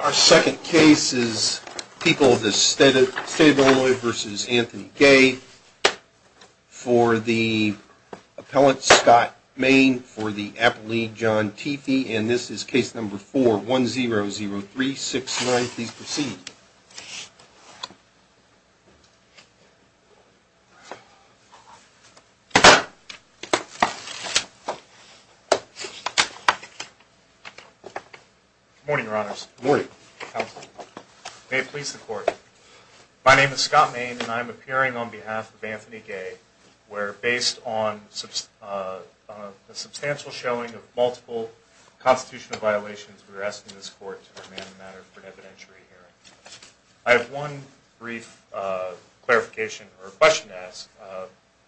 Our second case is people of the state of Illinois v. Anthony Gay for the appellant Scott Main for the appellee John Teefee, and this is case number 4100369. Please proceed. Good morning your honors. Good morning. May it please the court. My name is Scott Main and I am appearing on behalf of Anthony Gay where based on a substantial showing of multiple constitutional violations we are asking this court to demand a matter for an evidentiary hearing. I have one brief clarification or question to ask.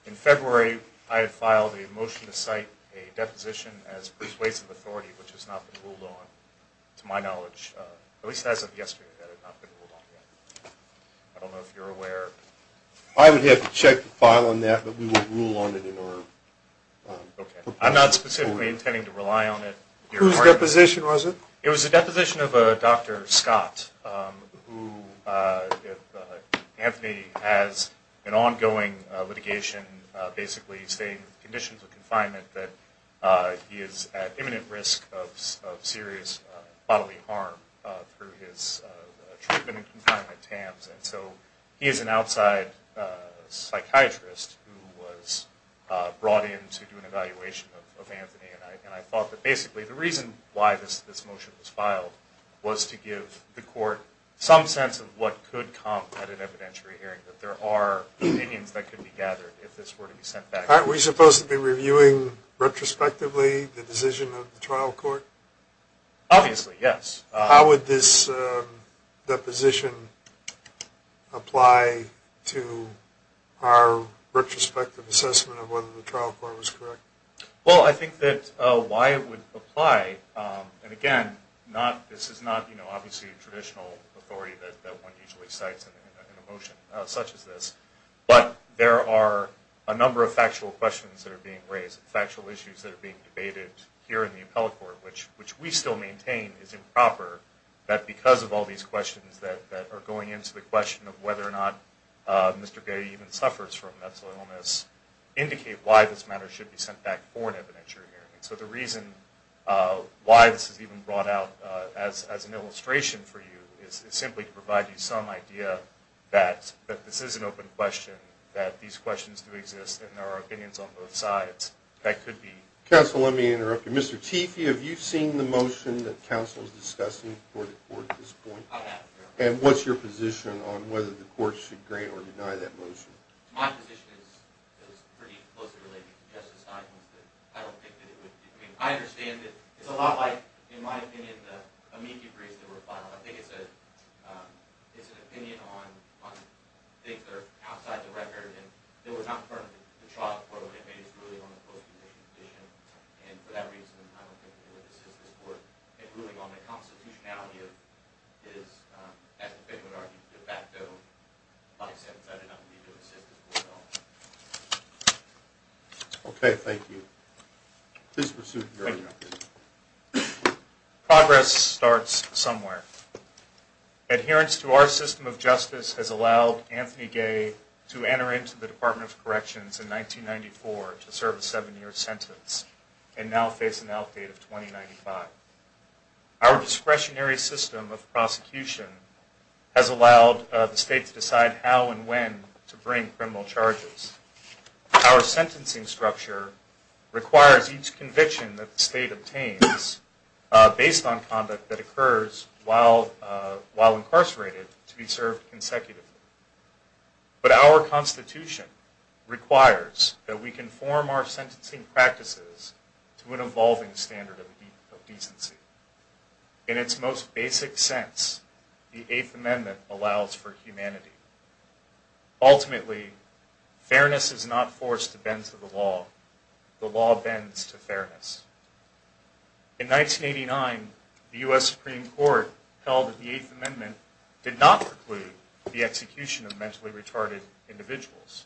In February I had filed a motion to cite a deposition as persuasive authority which has not been ruled on to my knowledge, at least as of yesterday, that had not been ruled on yet. I don't know if you're aware. I would have to check the file on that but we would rule on it in order. Okay. I'm not specifically intending to rely on it. Whose deposition was it? It was a deposition of a Dr. Scott who Anthony has an ongoing litigation basically stating with conditions of confinement that he is at imminent risk of serious bodily harm through his treatment in confinement camps. So he is an outside psychiatrist who was brought in to do an evaluation of Anthony and I thought that basically the reason why this motion was filed was to give the court some sense of what could come at an evidentiary hearing, that there are opinions that could be gathered if this were to be sent back. Aren't we supposed to be reviewing retrospectively the decision of the trial court? Obviously, yes. How would this deposition apply to our retrospective assessment of whether the trial court was correct? Well, I think that why it would apply, and again, this is not obviously a traditional authority that one usually cites in a motion such as this, but there are a number of factual questions that are being raised, factual issues that are being debated here in the appellate court, which we still maintain is improper, that because of all these questions that are going into the question of whether or not Mr. Gay even suffers from mental illness indicate why this matter should be sent back for an evidentiary hearing. So the reason why this is even brought out as an illustration for you is simply to provide you some idea that this is an open question, that these questions do exist and there are opinions on both sides. Counsel, let me interrupt you. Mr. Teefee, have you seen the motion that counsel is discussing before the court at this point? I have, yes. And what's your position on whether the court should grant or deny that motion? My position is pretty closely related to Justice Stein's, but I don't think that it would. I mean, I understand that it's a lot like, in my opinion, the amici briefs that were filed. I think it's an opinion on things that are outside the record, and they were not part of the trial for the amici's ruling on the post-conviction position. And for that reason, I don't think that it would assist this court in ruling on the constitutionality of his, as the defendant would argue, de facto license. I do not believe it would assist this court at all. Okay, thank you. Please proceed with your argument. Progress starts somewhere. Adherence to our system of justice has allowed Anthony Gay to enter into the Department of Corrections in 1994 to serve a seven-year sentence, and now face an outdate of 2095. Our discretionary system of prosecution has allowed the state to decide how and when to bring criminal charges. Our sentencing structure requires each conviction that the state obtains, based on conduct that occurs while incarcerated, to be served consecutively. But our constitution requires that we conform our sentencing practices to an evolving standard of decency. In its most basic sense, the Eighth Amendment allows for humanity. Ultimately, fairness is not forced to bend to the law. The law bends to fairness. In 1989, the U.S. Supreme Court held that the Eighth Amendment did not preclude the execution of mentally retarded individuals.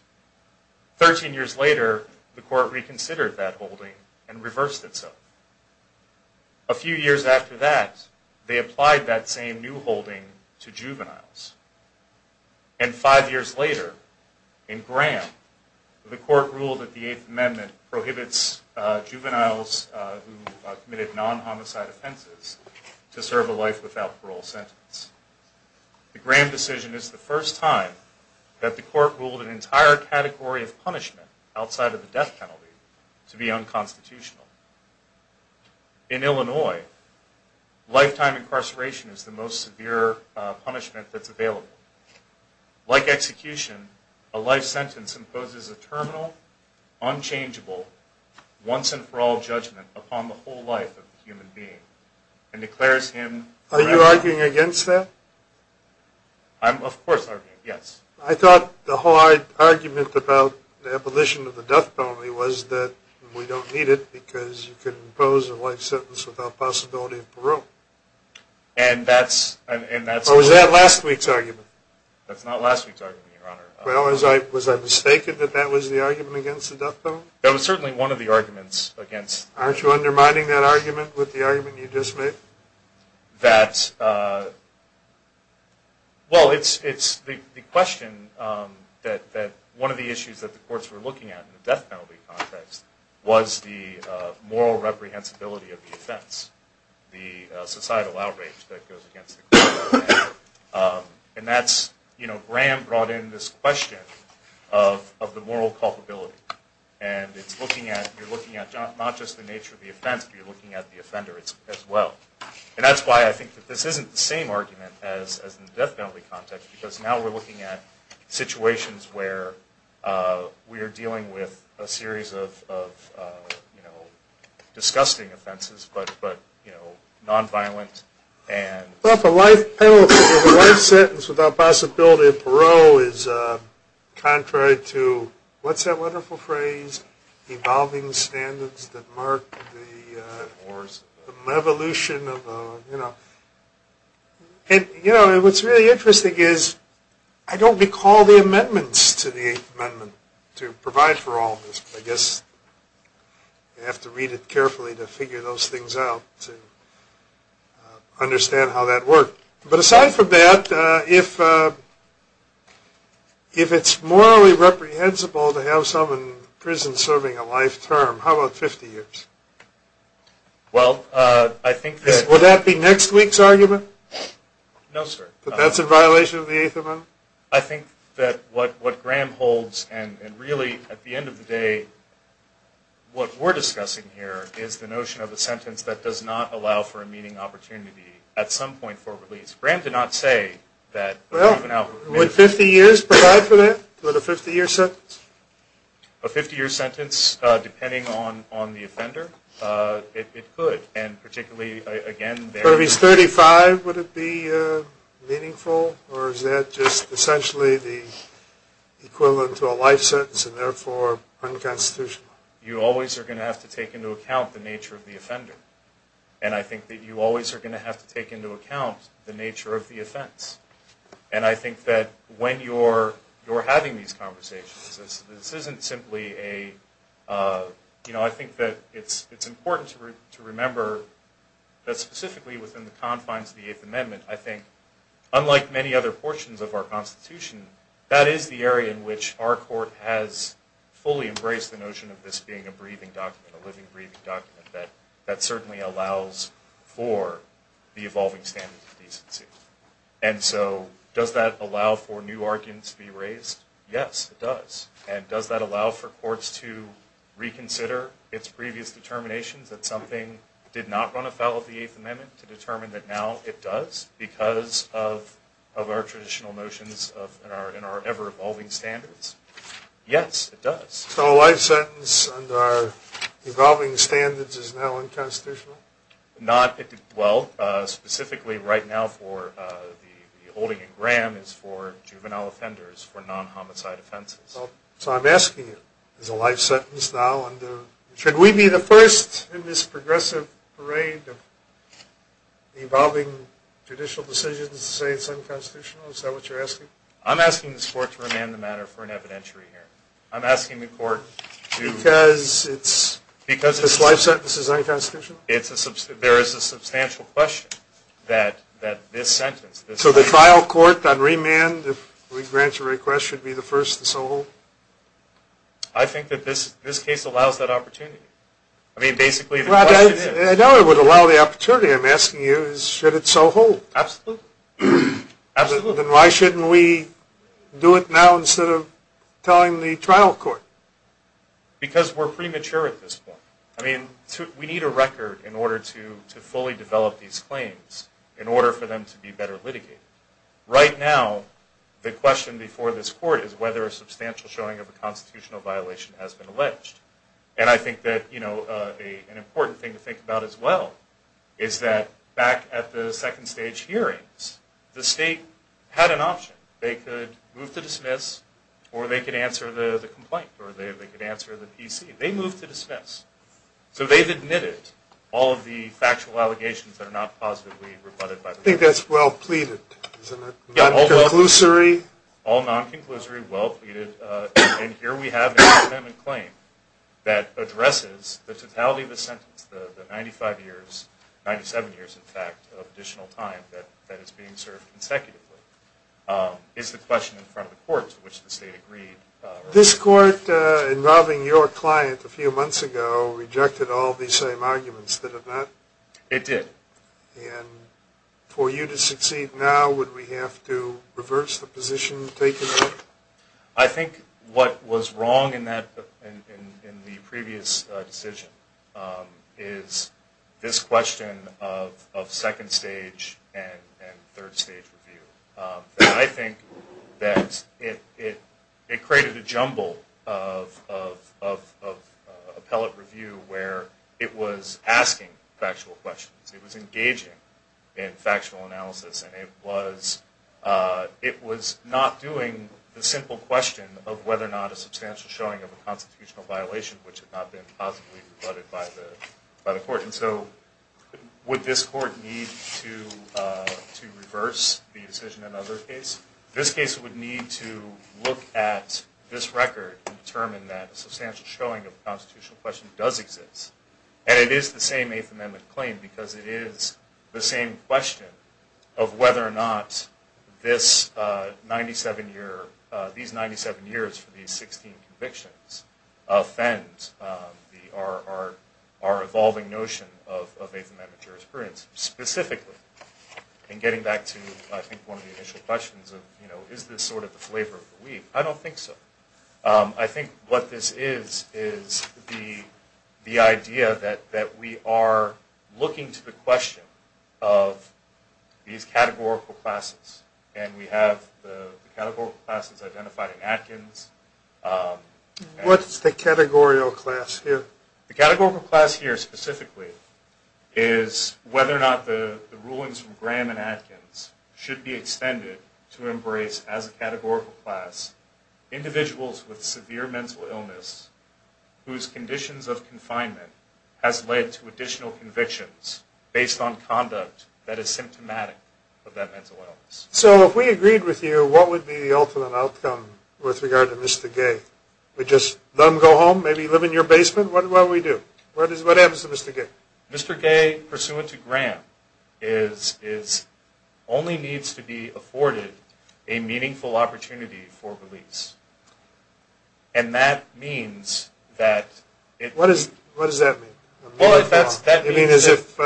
Thirteen years later, the court reconsidered that holding and reversed itself. A few years after that, they applied that same new holding to juveniles. And five years later, in Graham, the court ruled that the Eighth Amendment prohibits juveniles who committed non-homicide offenses to serve a life without parole sentence. The Graham decision is the first time that the court ruled an entire category of punishment outside of the death penalty to be unconstitutional. In Illinois, lifetime incarceration is the most severe punishment that's available. Like execution, a life sentence imposes a terminal, unchangeable, once-and-for-all judgment upon the whole life of a human being and declares him... Are you arguing against that? I'm, of course, arguing, yes. I thought the hard argument about the abolition of the death penalty was that we don't need it because you can impose a life sentence without possibility of parole. And that's... Or was that last week's argument? That's not last week's argument, Your Honor. Well, was I mistaken that that was the argument against the death penalty? That was certainly one of the arguments against... Aren't you undermining that argument with the argument you just made? That... Well, it's the question that one of the issues that the courts were looking at in the death penalty context was the moral reprehensibility of the offense. The societal outrage that goes against the court. And that's... You know, Graham brought in this question of the moral culpability. And it's looking at... You're looking at not just the nature of the offense, but you're looking at the offender as well. And that's why I think that this isn't the same argument as in the death penalty context. Because now we're looking at situations where we are dealing with a series of, you know, disgusting offenses, but, you know, nonviolent and... I thought the life sentence without possibility of parole is contrary to... What's that wonderful phrase? Evolving standards that mark the evolution of, you know... And, you know, what's really interesting is I don't recall the amendments to the Eighth Amendment to provide for all of this. I guess you have to read it carefully to figure those things out, to understand how that worked. But aside from that, if it's morally reprehensible to have someone in prison serving a life term, how about 50 years? Well, I think that... Would that be next week's argument? No, sir. That that's in violation of the Eighth Amendment? I think that what Graham holds, and really, at the end of the day, what we're discussing here is the notion of a sentence that does not allow for a meeting opportunity at some point for release. Graham did not say that... Well, would 50 years provide for that? Would a 50-year sentence? A 50-year sentence, depending on the offender, it could. And particularly, again... So if he's 35, would it be meaningful? Or is that just essentially the equivalent to a life sentence, and therefore unconstitutional? You always are going to have to take into account the nature of the offender. And I think that you always are going to have to take into account the nature of the offense. And I think that when you're having these conversations, this isn't simply a... You know, I think that it's important to remember that specifically within the confines of the Eighth Amendment, I think, unlike many other portions of our Constitution, that is the area in which our Court has fully embraced the notion of this being a breathing document, a living, breathing document, that certainly allows for the evolving standards of decency. And so, does that allow for new arguments to be raised? Yes, it does. And does that allow for courts to reconsider its previous determinations, that something did not run afoul of the Eighth Amendment, to determine that now it does, because of our traditional notions and our ever-evolving standards? Yes, it does. So a life sentence under our evolving standards is now unconstitutional? Well, specifically right now for the holding in Graham is for juvenile offenders for non-homicide offenses. So I'm asking you, is a life sentence now under... Should we be the first in this progressive parade of evolving judicial decisions to say it's unconstitutional? Is that what you're asking? I'm asking this Court to remand the matter for an evidentiary hearing. I'm asking the Court to... Because it's... Because it's... This life sentence is unconstitutional? There is a substantial question that this sentence... So the trial court on remand, if we grant your request, should be the first to so hold? I think that this case allows that opportunity. I mean, basically... I know it would allow the opportunity. I'm asking you, should it so hold? Absolutely. Absolutely. Then why shouldn't we do it now instead of telling the trial court? Because we're premature at this point. I mean, we need a record in order to fully develop these claims in order for them to be better litigated. Right now, the question before this Court is whether a substantial showing of a constitutional violation has been alleged. And I think that, you know, an important thing to think about as well is that back at the second stage hearings, the State had an option. They could move to dismiss, or they could answer the complaint, or they could answer the PC. They moved to dismiss. So they've admitted all of the factual allegations that are not positively rebutted by the court. I think that's well pleaded, isn't it? Yeah. Non-conclusory. All non-conclusory, well pleaded. And here we have an amendment claim that addresses the totality of the sentence, the 95 years, 97 years, in fact, of additional time that is being served consecutively. It's the question in front of the Court to which the State agreed. This Court, involving your client a few months ago, rejected all these same arguments. Did it not? It did. And for you to succeed now, would we have to reverse the position taken? I think what was wrong in the previous decision is this question of second stage and third stage review. I think that it created a jumble of appellate review where it was asking factual questions. It was engaging in factual analysis. And it was not doing the simple question of whether or not a substantial showing of a constitutional violation, which had not been positively rebutted by the court. And so would this court need to reverse the decision in another case? This case would need to look at this record and determine that a substantial showing of a constitutional question does exist. And it is the same Eighth Amendment claim because it is the same question of whether or not these 97 years for these 16 convictions offend our evolving notion of Eighth Amendment jurisprudence. Specifically, in getting back to, I think, one of the initial questions of, you know, is this sort of the flavor of the week? I don't think so. I think what this is is the idea that we are looking to the question of these categorical classes. And we have the categorical classes identified in Atkins. What's the categorical class here? The categorical class here, specifically, is whether or not the rulings from Graham and Atkins should be extended to embrace as a categorical class individuals with severe mental illness whose conditions of confinement has led to additional convictions based on conduct that is symptomatic of that mental illness. So if we agreed with you, what would be the ultimate outcome with regard to Mr. Gay? Would just let him go home, maybe live in your basement? What do we do? What happens to Mr. Gay? Mr. Gay, pursuant to Graham, only needs to be afforded a meaningful opportunity for release. And that means that... What does that mean? You mean as if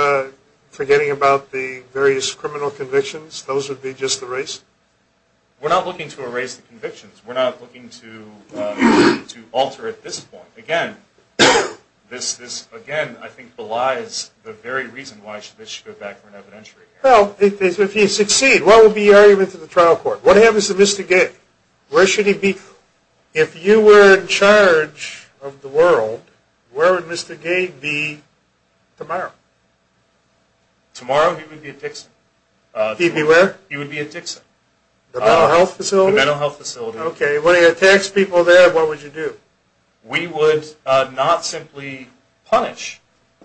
forgetting about the various criminal convictions, those would be just erased? We're not looking to erase the convictions. We're not looking to alter at this point. Again, this, again, I think belies the very reason why this should go back for an evidentiary hearing. Well, if he succeeds, what would be the argument to the trial court? What happens to Mr. Gay? Where should he be? If you were in charge of the world, where would Mr. Gay be tomorrow? Tomorrow he would be at Dixon. He'd be where? He would be at Dixon. The mental health facility? The mental health facility. Okay. And when he attacks people there, what would you do? We would not simply punish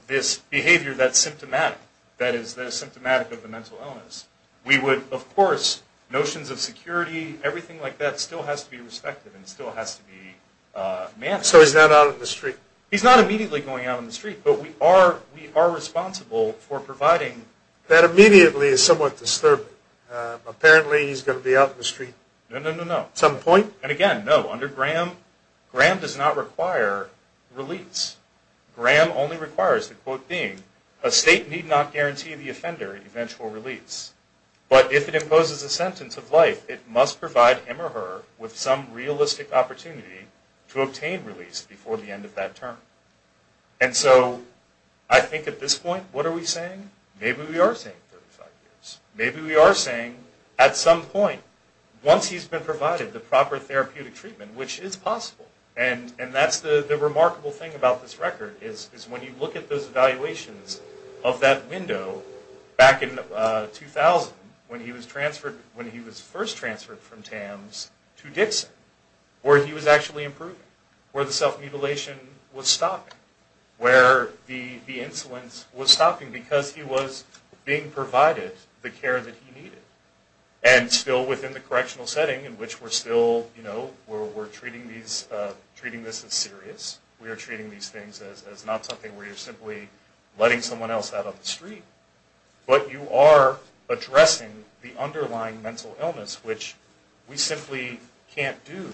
this behavior that's symptomatic, that is symptomatic of a mental illness. We would, of course, notions of security, everything like that still has to be respected and still has to be managed. So he's not out on the street? He's not immediately going out on the street, but we are responsible for providing... That immediately is somewhat disturbing. Apparently he's going to be out on the street. No, no, no, no. At some point? And again, no, under Graham, Graham does not require release. Graham only requires the quote being, a state need not guarantee the offender eventual release. But if it imposes a sentence of life, it must provide him or her with some realistic opportunity to obtain release before the end of that term. And so I think at this point, what are we saying? Maybe we are saying 35 years. Maybe we are saying at some point, once he's been provided the proper therapeutic treatment, which is possible. And that's the remarkable thing about this record, is when you look at those evaluations of that window back in 2000, when he was first transferred from TAMS to Dixon, where he was actually improving, where the self-mutilation was stopping, where the insolence was stopping because he was being provided the care that he needed. And still within the correctional setting in which we're still, you know, we're treating this as serious. We are treating these things as not something where you're simply letting someone else out on the street. But you are addressing the underlying mental illness, which we simply can't do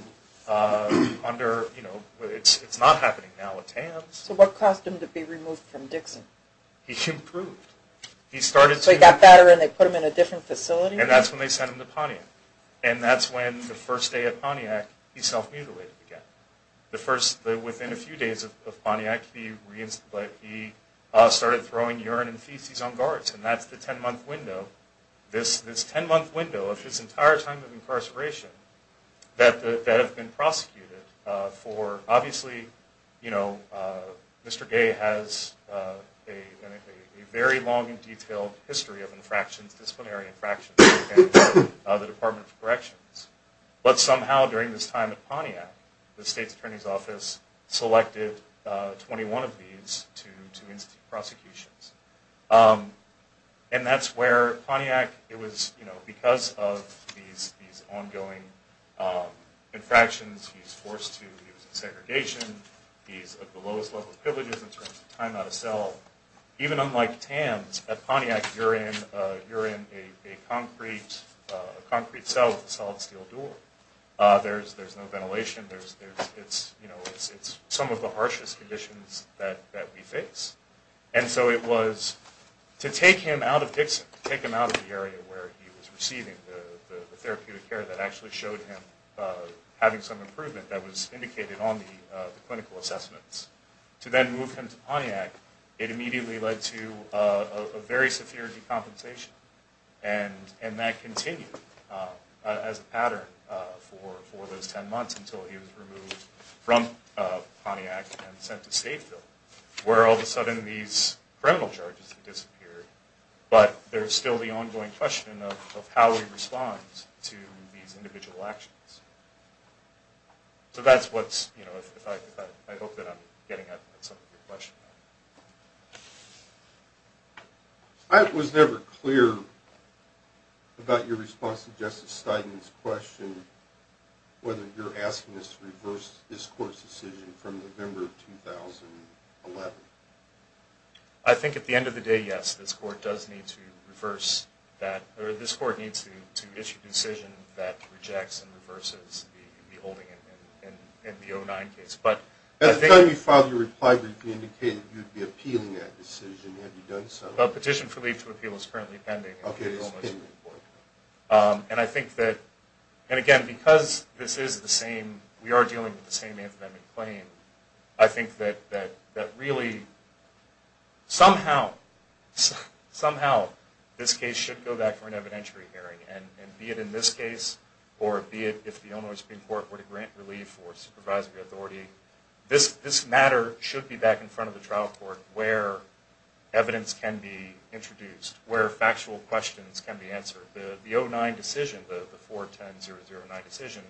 under, you know, it's not happening now with TAMS. So what caused him to be removed from Dixon? He improved. So he got better and they put him in a different facility? And that's when they sent him to Pontiac. And that's when the first day at Pontiac, he self-mutilated again. The first, within a few days of Pontiac, he reinstated, he started throwing urine and feces on guards. And that's the 10-month window, this 10-month window of his entire time of incarceration that have been prosecuted for, obviously, you know, Mr. Gay has a very long and detailed history of infractions, disciplinary infractions, at the Department of Corrections. But somehow during this time at Pontiac, the State's Attorney's Office selected 21 of these to institute prosecutions. And that's where Pontiac, it was, you know, because of these ongoing infractions, he's forced to use segregation, he's at the lowest level of privileges in terms of time out of cell. Even unlike TAMS, at Pontiac, you're in a concrete cell with a solid steel door. There's no ventilation. It's some of the harshest conditions that we face. And so it was to take him out of Dixon, to take him out of the area where he was receiving the therapeutic care that actually showed him having some improvement that was indicated on the clinical assessments, to then move him to Pontiac, it immediately led to a very severe decompensation. And that continued as a pattern for those 10 months until he was removed from Pontiac and sent to Stateville, where all of a sudden these criminal charges had disappeared. But there's still the ongoing question of how we respond to these individual actions. So that's what's, you know, I hope that I'm getting at some of your questions. I was never clear about your response to Justice Stein's question, whether you're asking us to reverse this court's decision from November of 2011. I think at the end of the day, yes, this court does need to reverse that, or this court needs to issue a decision that rejects and reverses the holding in the 09 case. At the time you filed your reply brief, you indicated you would be appealing that decision. Have you done so? A petition for leave to appeal is currently pending. Okay, it's pending. And I think that, and again, because this is the same, we are dealing with the same amendment claim, I think that really somehow this case should go back for an evidentiary hearing. And be it in this case or be it if the Illinois Supreme Court were to grant relief or supervise the authority, this matter should be back in front of the trial court where evidence can be introduced, where factual questions can be answered. The 09 decision, the 41009 decision,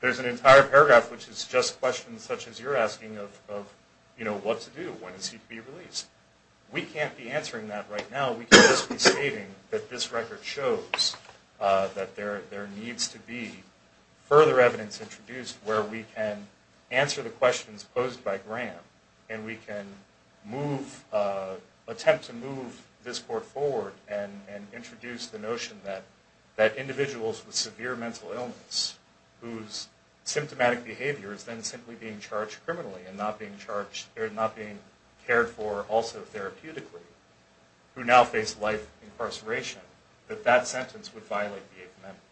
there's an entire paragraph which is just questions such as you're asking of, you know, what to do, when is he to be released. We can't be answering that right now. We can just be stating that this record shows that there needs to be further evidence introduced where we can answer the questions posed by Graham and we can move, attempt to move this court forward and introduce the notion that individuals with severe mental illness whose symptomatic behavior is then simply being charged criminally and not being charged, or not being cared for also therapeutically, who now face life incarceration, that that sentence would violate the 8th Amendment.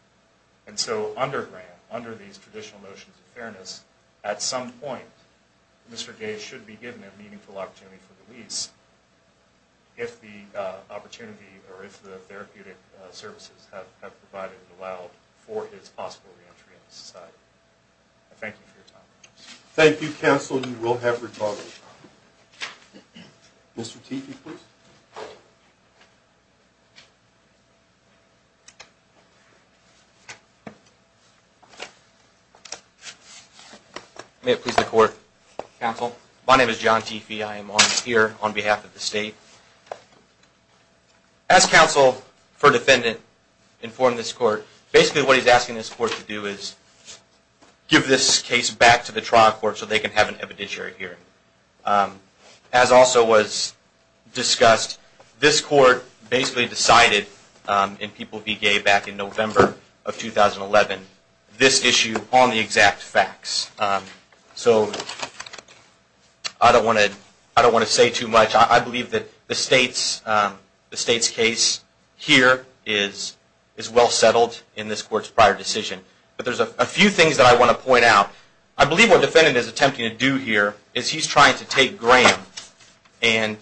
And so under Graham, under these traditional notions of fairness, at some point, Mr. Gay should be given a meaningful opportunity for release if the opportunity, or if the therapeutic services have provided and allowed for his possible reentry into society. I thank you for your time. Thank you, counsel. You will have your time. Mr. Teefee, please. May it please the court, counsel. My name is John Teefee. I am here on behalf of the state. As counsel for defendant, inform this court, basically what he's asking this court to do is give this case back to the trial court so they can have an evidentiary hearing. As also was discussed, this court basically decided in People Be Gay back in November of 2011, this issue on the exact facts. So I don't want to say too much. I believe that the state's case here is well settled in this court's prior decision. But there's a few things that I want to point out. I believe what the defendant is attempting to do here is he's trying to take Graham. And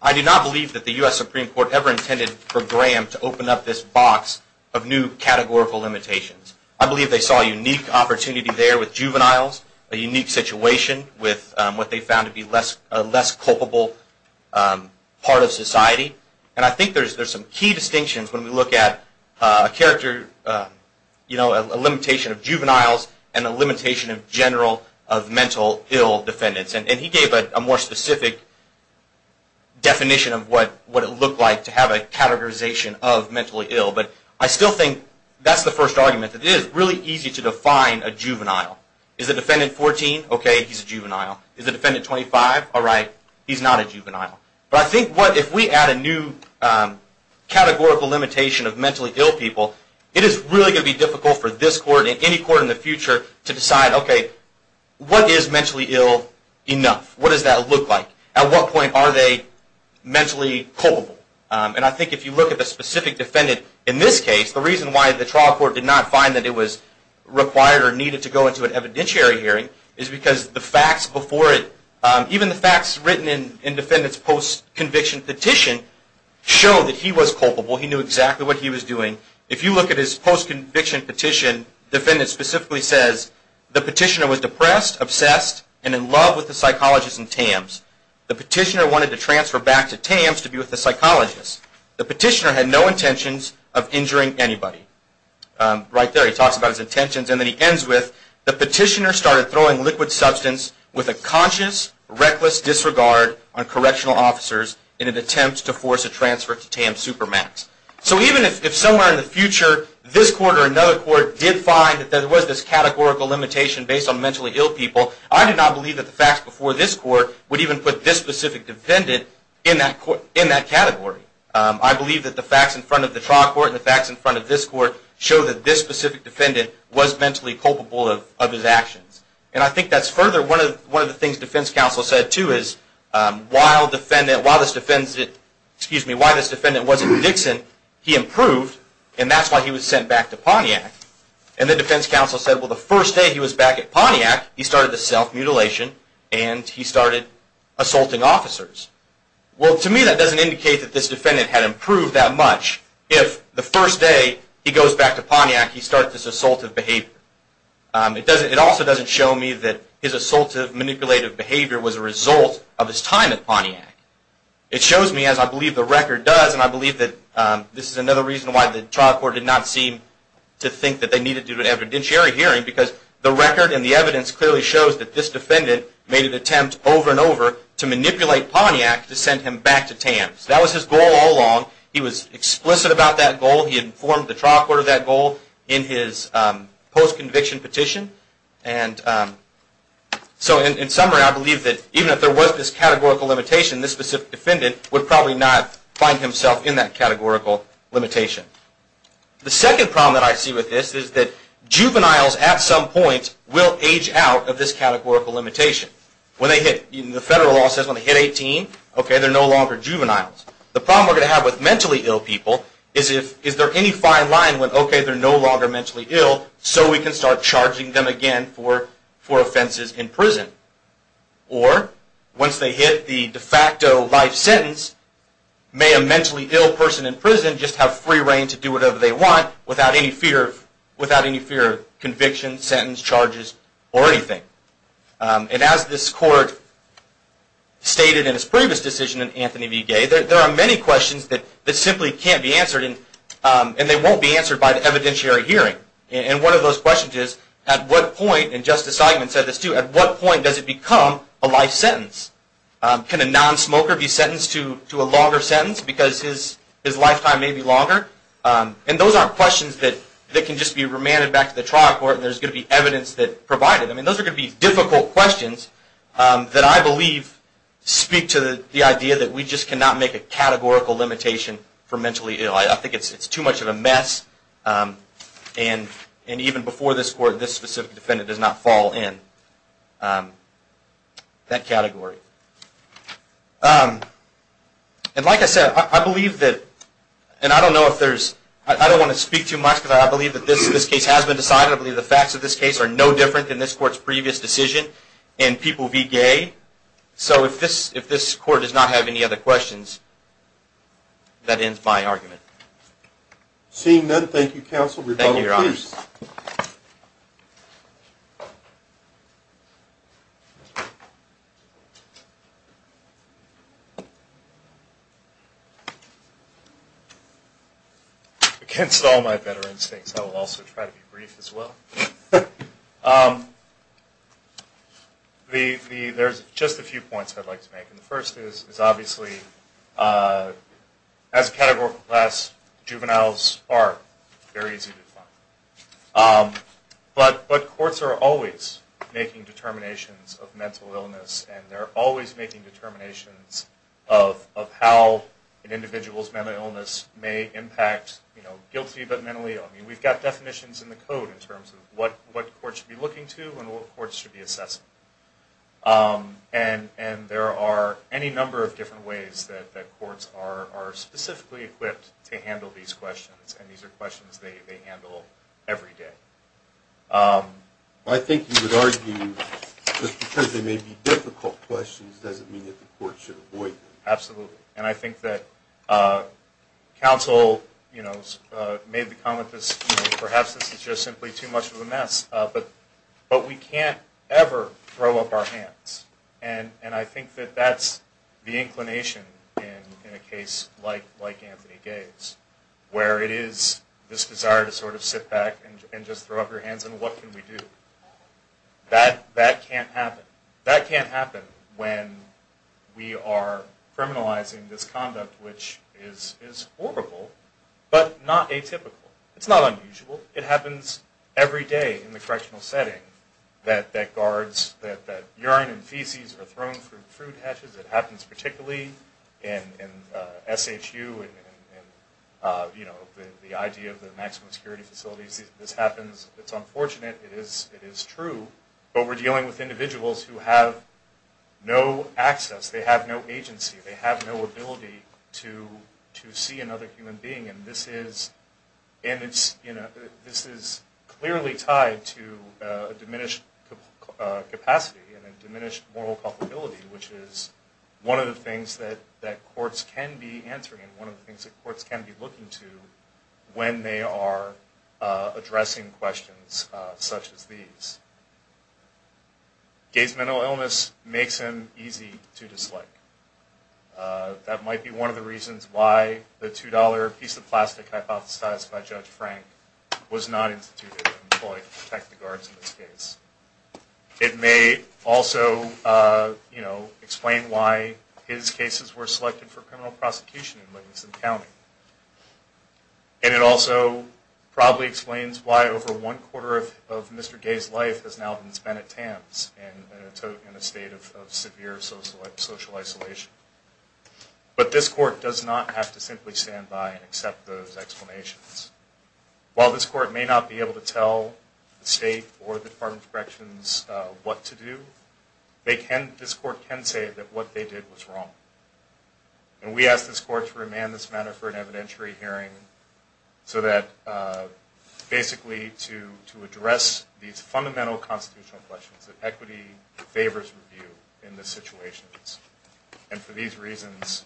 I do not believe that the U.S. Supreme Court ever intended for Graham to open up this box of new categorical limitations. I believe they saw a unique opportunity there with juveniles, a unique situation with what they found to be a less culpable part of society. And I think there's some key distinctions when we look at a limitation of juveniles and a limitation in general of mental ill defendants. And he gave a more specific definition of what it looked like to have a categorization of mentally ill. But I still think that's the first argument. It is really easy to define a juvenile. Is the defendant 14? Okay, he's a juvenile. All right, he's not a juvenile. But I think if we add a new categorical limitation of mentally ill people, it is really going to be difficult for this court and any court in the future to decide, okay, what is mentally ill enough? What does that look like? At what point are they mentally culpable? And I think if you look at the specific defendant in this case, the reason why the trial court did not find that it was required or needed to go into an evidentiary hearing is because the facts before it, even the facts written in the defendant's post-conviction petition, show that he was culpable. He knew exactly what he was doing. If you look at his post-conviction petition, the defendant specifically says, the petitioner was depressed, obsessed, and in love with the psychologist in TAMS. The petitioner wanted to transfer back to TAMS to be with the psychologist. The petitioner had no intentions of injuring anybody. Right there, he talks about his intentions. And then he ends with, the petitioner started throwing liquid substance with a conscious, reckless disregard on correctional officers in an attempt to force a transfer to TAMS Supermax. So even if somewhere in the future this court or another court did find that there was this categorical limitation based on mentally ill people, I do not believe that the facts before this court would even put this specific defendant in that category. I believe that the facts in front of the trial court and the facts in front of this court show that this specific defendant was mentally culpable of his actions. And I think that's further one of the things defense counsel said, too, is while this defendant was in Dixon, he improved, and that's why he was sent back to Pontiac. And the defense counsel said, well, the first day he was back at Pontiac, he started the self-mutilation and he started assaulting officers. Well, to me that doesn't indicate that this defendant had improved that much. If the first day he goes back to Pontiac, he starts this assaultive behavior. It also doesn't show me that his assaultive, manipulative behavior was a result of his time at Pontiac. It shows me, as I believe the record does, and I believe that this is another reason why the trial court did not seem to think that they needed to do an evidentiary hearing, because the record and the evidence clearly shows that this defendant made an attempt over and over to manipulate Pontiac to send him back to TAMS. That was his goal all along. He was explicit about that goal. He informed the trial court of that goal in his post-conviction petition. And so in summary, I believe that even if there was this categorical limitation, this specific defendant would probably not find himself in that categorical limitation. The second problem that I see with this is that juveniles, at some point, will age out of this categorical limitation. When they hit, the federal law says when they hit 18, okay, they're no longer juveniles. The problem we're going to have with mentally ill people is if, is there any fine line with, okay, they're no longer mentally ill, so we can start charging them again for offenses in prison. Or, once they hit the de facto life sentence, may a mentally ill person in prison just have free reign to do whatever they want without any fear of conviction, sentence, charges, or anything. And as this court stated in its previous decision in Anthony v. Gay, there are many questions that simply can't be answered, and they won't be answered by the evidentiary hearing. And one of those questions is, at what point, and Justice Eichmann said this too, at what point does it become a life sentence? Can a non-smoker be sentenced to a longer sentence because his lifetime may be longer? And those aren't questions that can just be remanded back to the trial court, and there's going to be evidence that provided. I mean, those are going to be difficult questions that I believe speak to the idea that we just cannot make a categorical limitation for mentally ill. I think it's too much of a mess, and even before this court, this specific defendant does not fall in that category. And like I said, I believe that, and I don't know if there's, I don't want to speak too much because I believe that this case has been decided. I believe the facts of this case are no different than this court's previous decision in people v. Gay. So if this court does not have any other questions, that ends my argument. Seeing none, thank you, counsel. Thank you, Your Honor. Against all my better instincts, I will also try to be brief as well. There's just a few points I'd like to make, and the first is, obviously, as a categorical class, juveniles are very easy to find. But courts are always making determinations of mental illness, of how an individual's mental illness may impact, you know, guilty but mentally ill. I mean, we've got definitions in the code in terms of what courts should be looking to and what courts should be assessing. And there are any number of different ways that courts are specifically equipped to handle these questions, and these are questions they handle every day. I think you would argue just because they may be difficult questions doesn't mean that the court should avoid them. Absolutely. And I think that counsel, you know, made the comment that perhaps this is just simply too much of a mess, but we can't ever throw up our hands. And I think that that's the inclination in a case like Anthony Gay's, where it is this desire to sort of sit back and just throw up your hands, and what can we do? That can't happen. That can't happen when we are criminalizing this conduct, which is horrible but not atypical. It's not unusual. It happens every day in the correctional setting that guards, that urine and feces are thrown through food hatches. It happens particularly in SHU and, you know, the idea of the maximum security facilities. This happens. It's unfortunate. It is true. But we're dealing with individuals who have no access. They have no agency. They have no ability to see another human being, and this is clearly tied to a diminished capacity and a diminished moral culpability, which is one of the things that courts can be answering and one of the things that courts can be looking to when they are addressing questions such as these. Gay's mental illness makes him easy to dislike. That might be one of the reasons why the $2 piece of plastic hypothesized by Judge Frank was not instituted and employed to protect the guards in this case. It may also, you know, explain why his cases were selected for criminal prosecution in Livingston County. And it also probably explains why over one quarter of Mr. Gay's life has now been spent at TAMS in a state of severe social isolation. But this court does not have to simply stand by and accept those explanations. While this court may not be able to tell the state or the Department of Corrections what to do, this court can say that what they did was wrong. And we ask this court to remand this matter for an evidentiary hearing so that basically to address these fundamental constitutional questions that equity favors review in these situations. And for these reasons,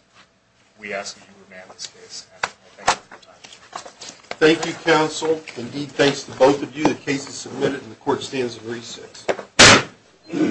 we ask that you remand this case. Thank you for your time. Thank you, counsel. Indeed, thanks to both of you. The case is submitted and the court stands at 3-6.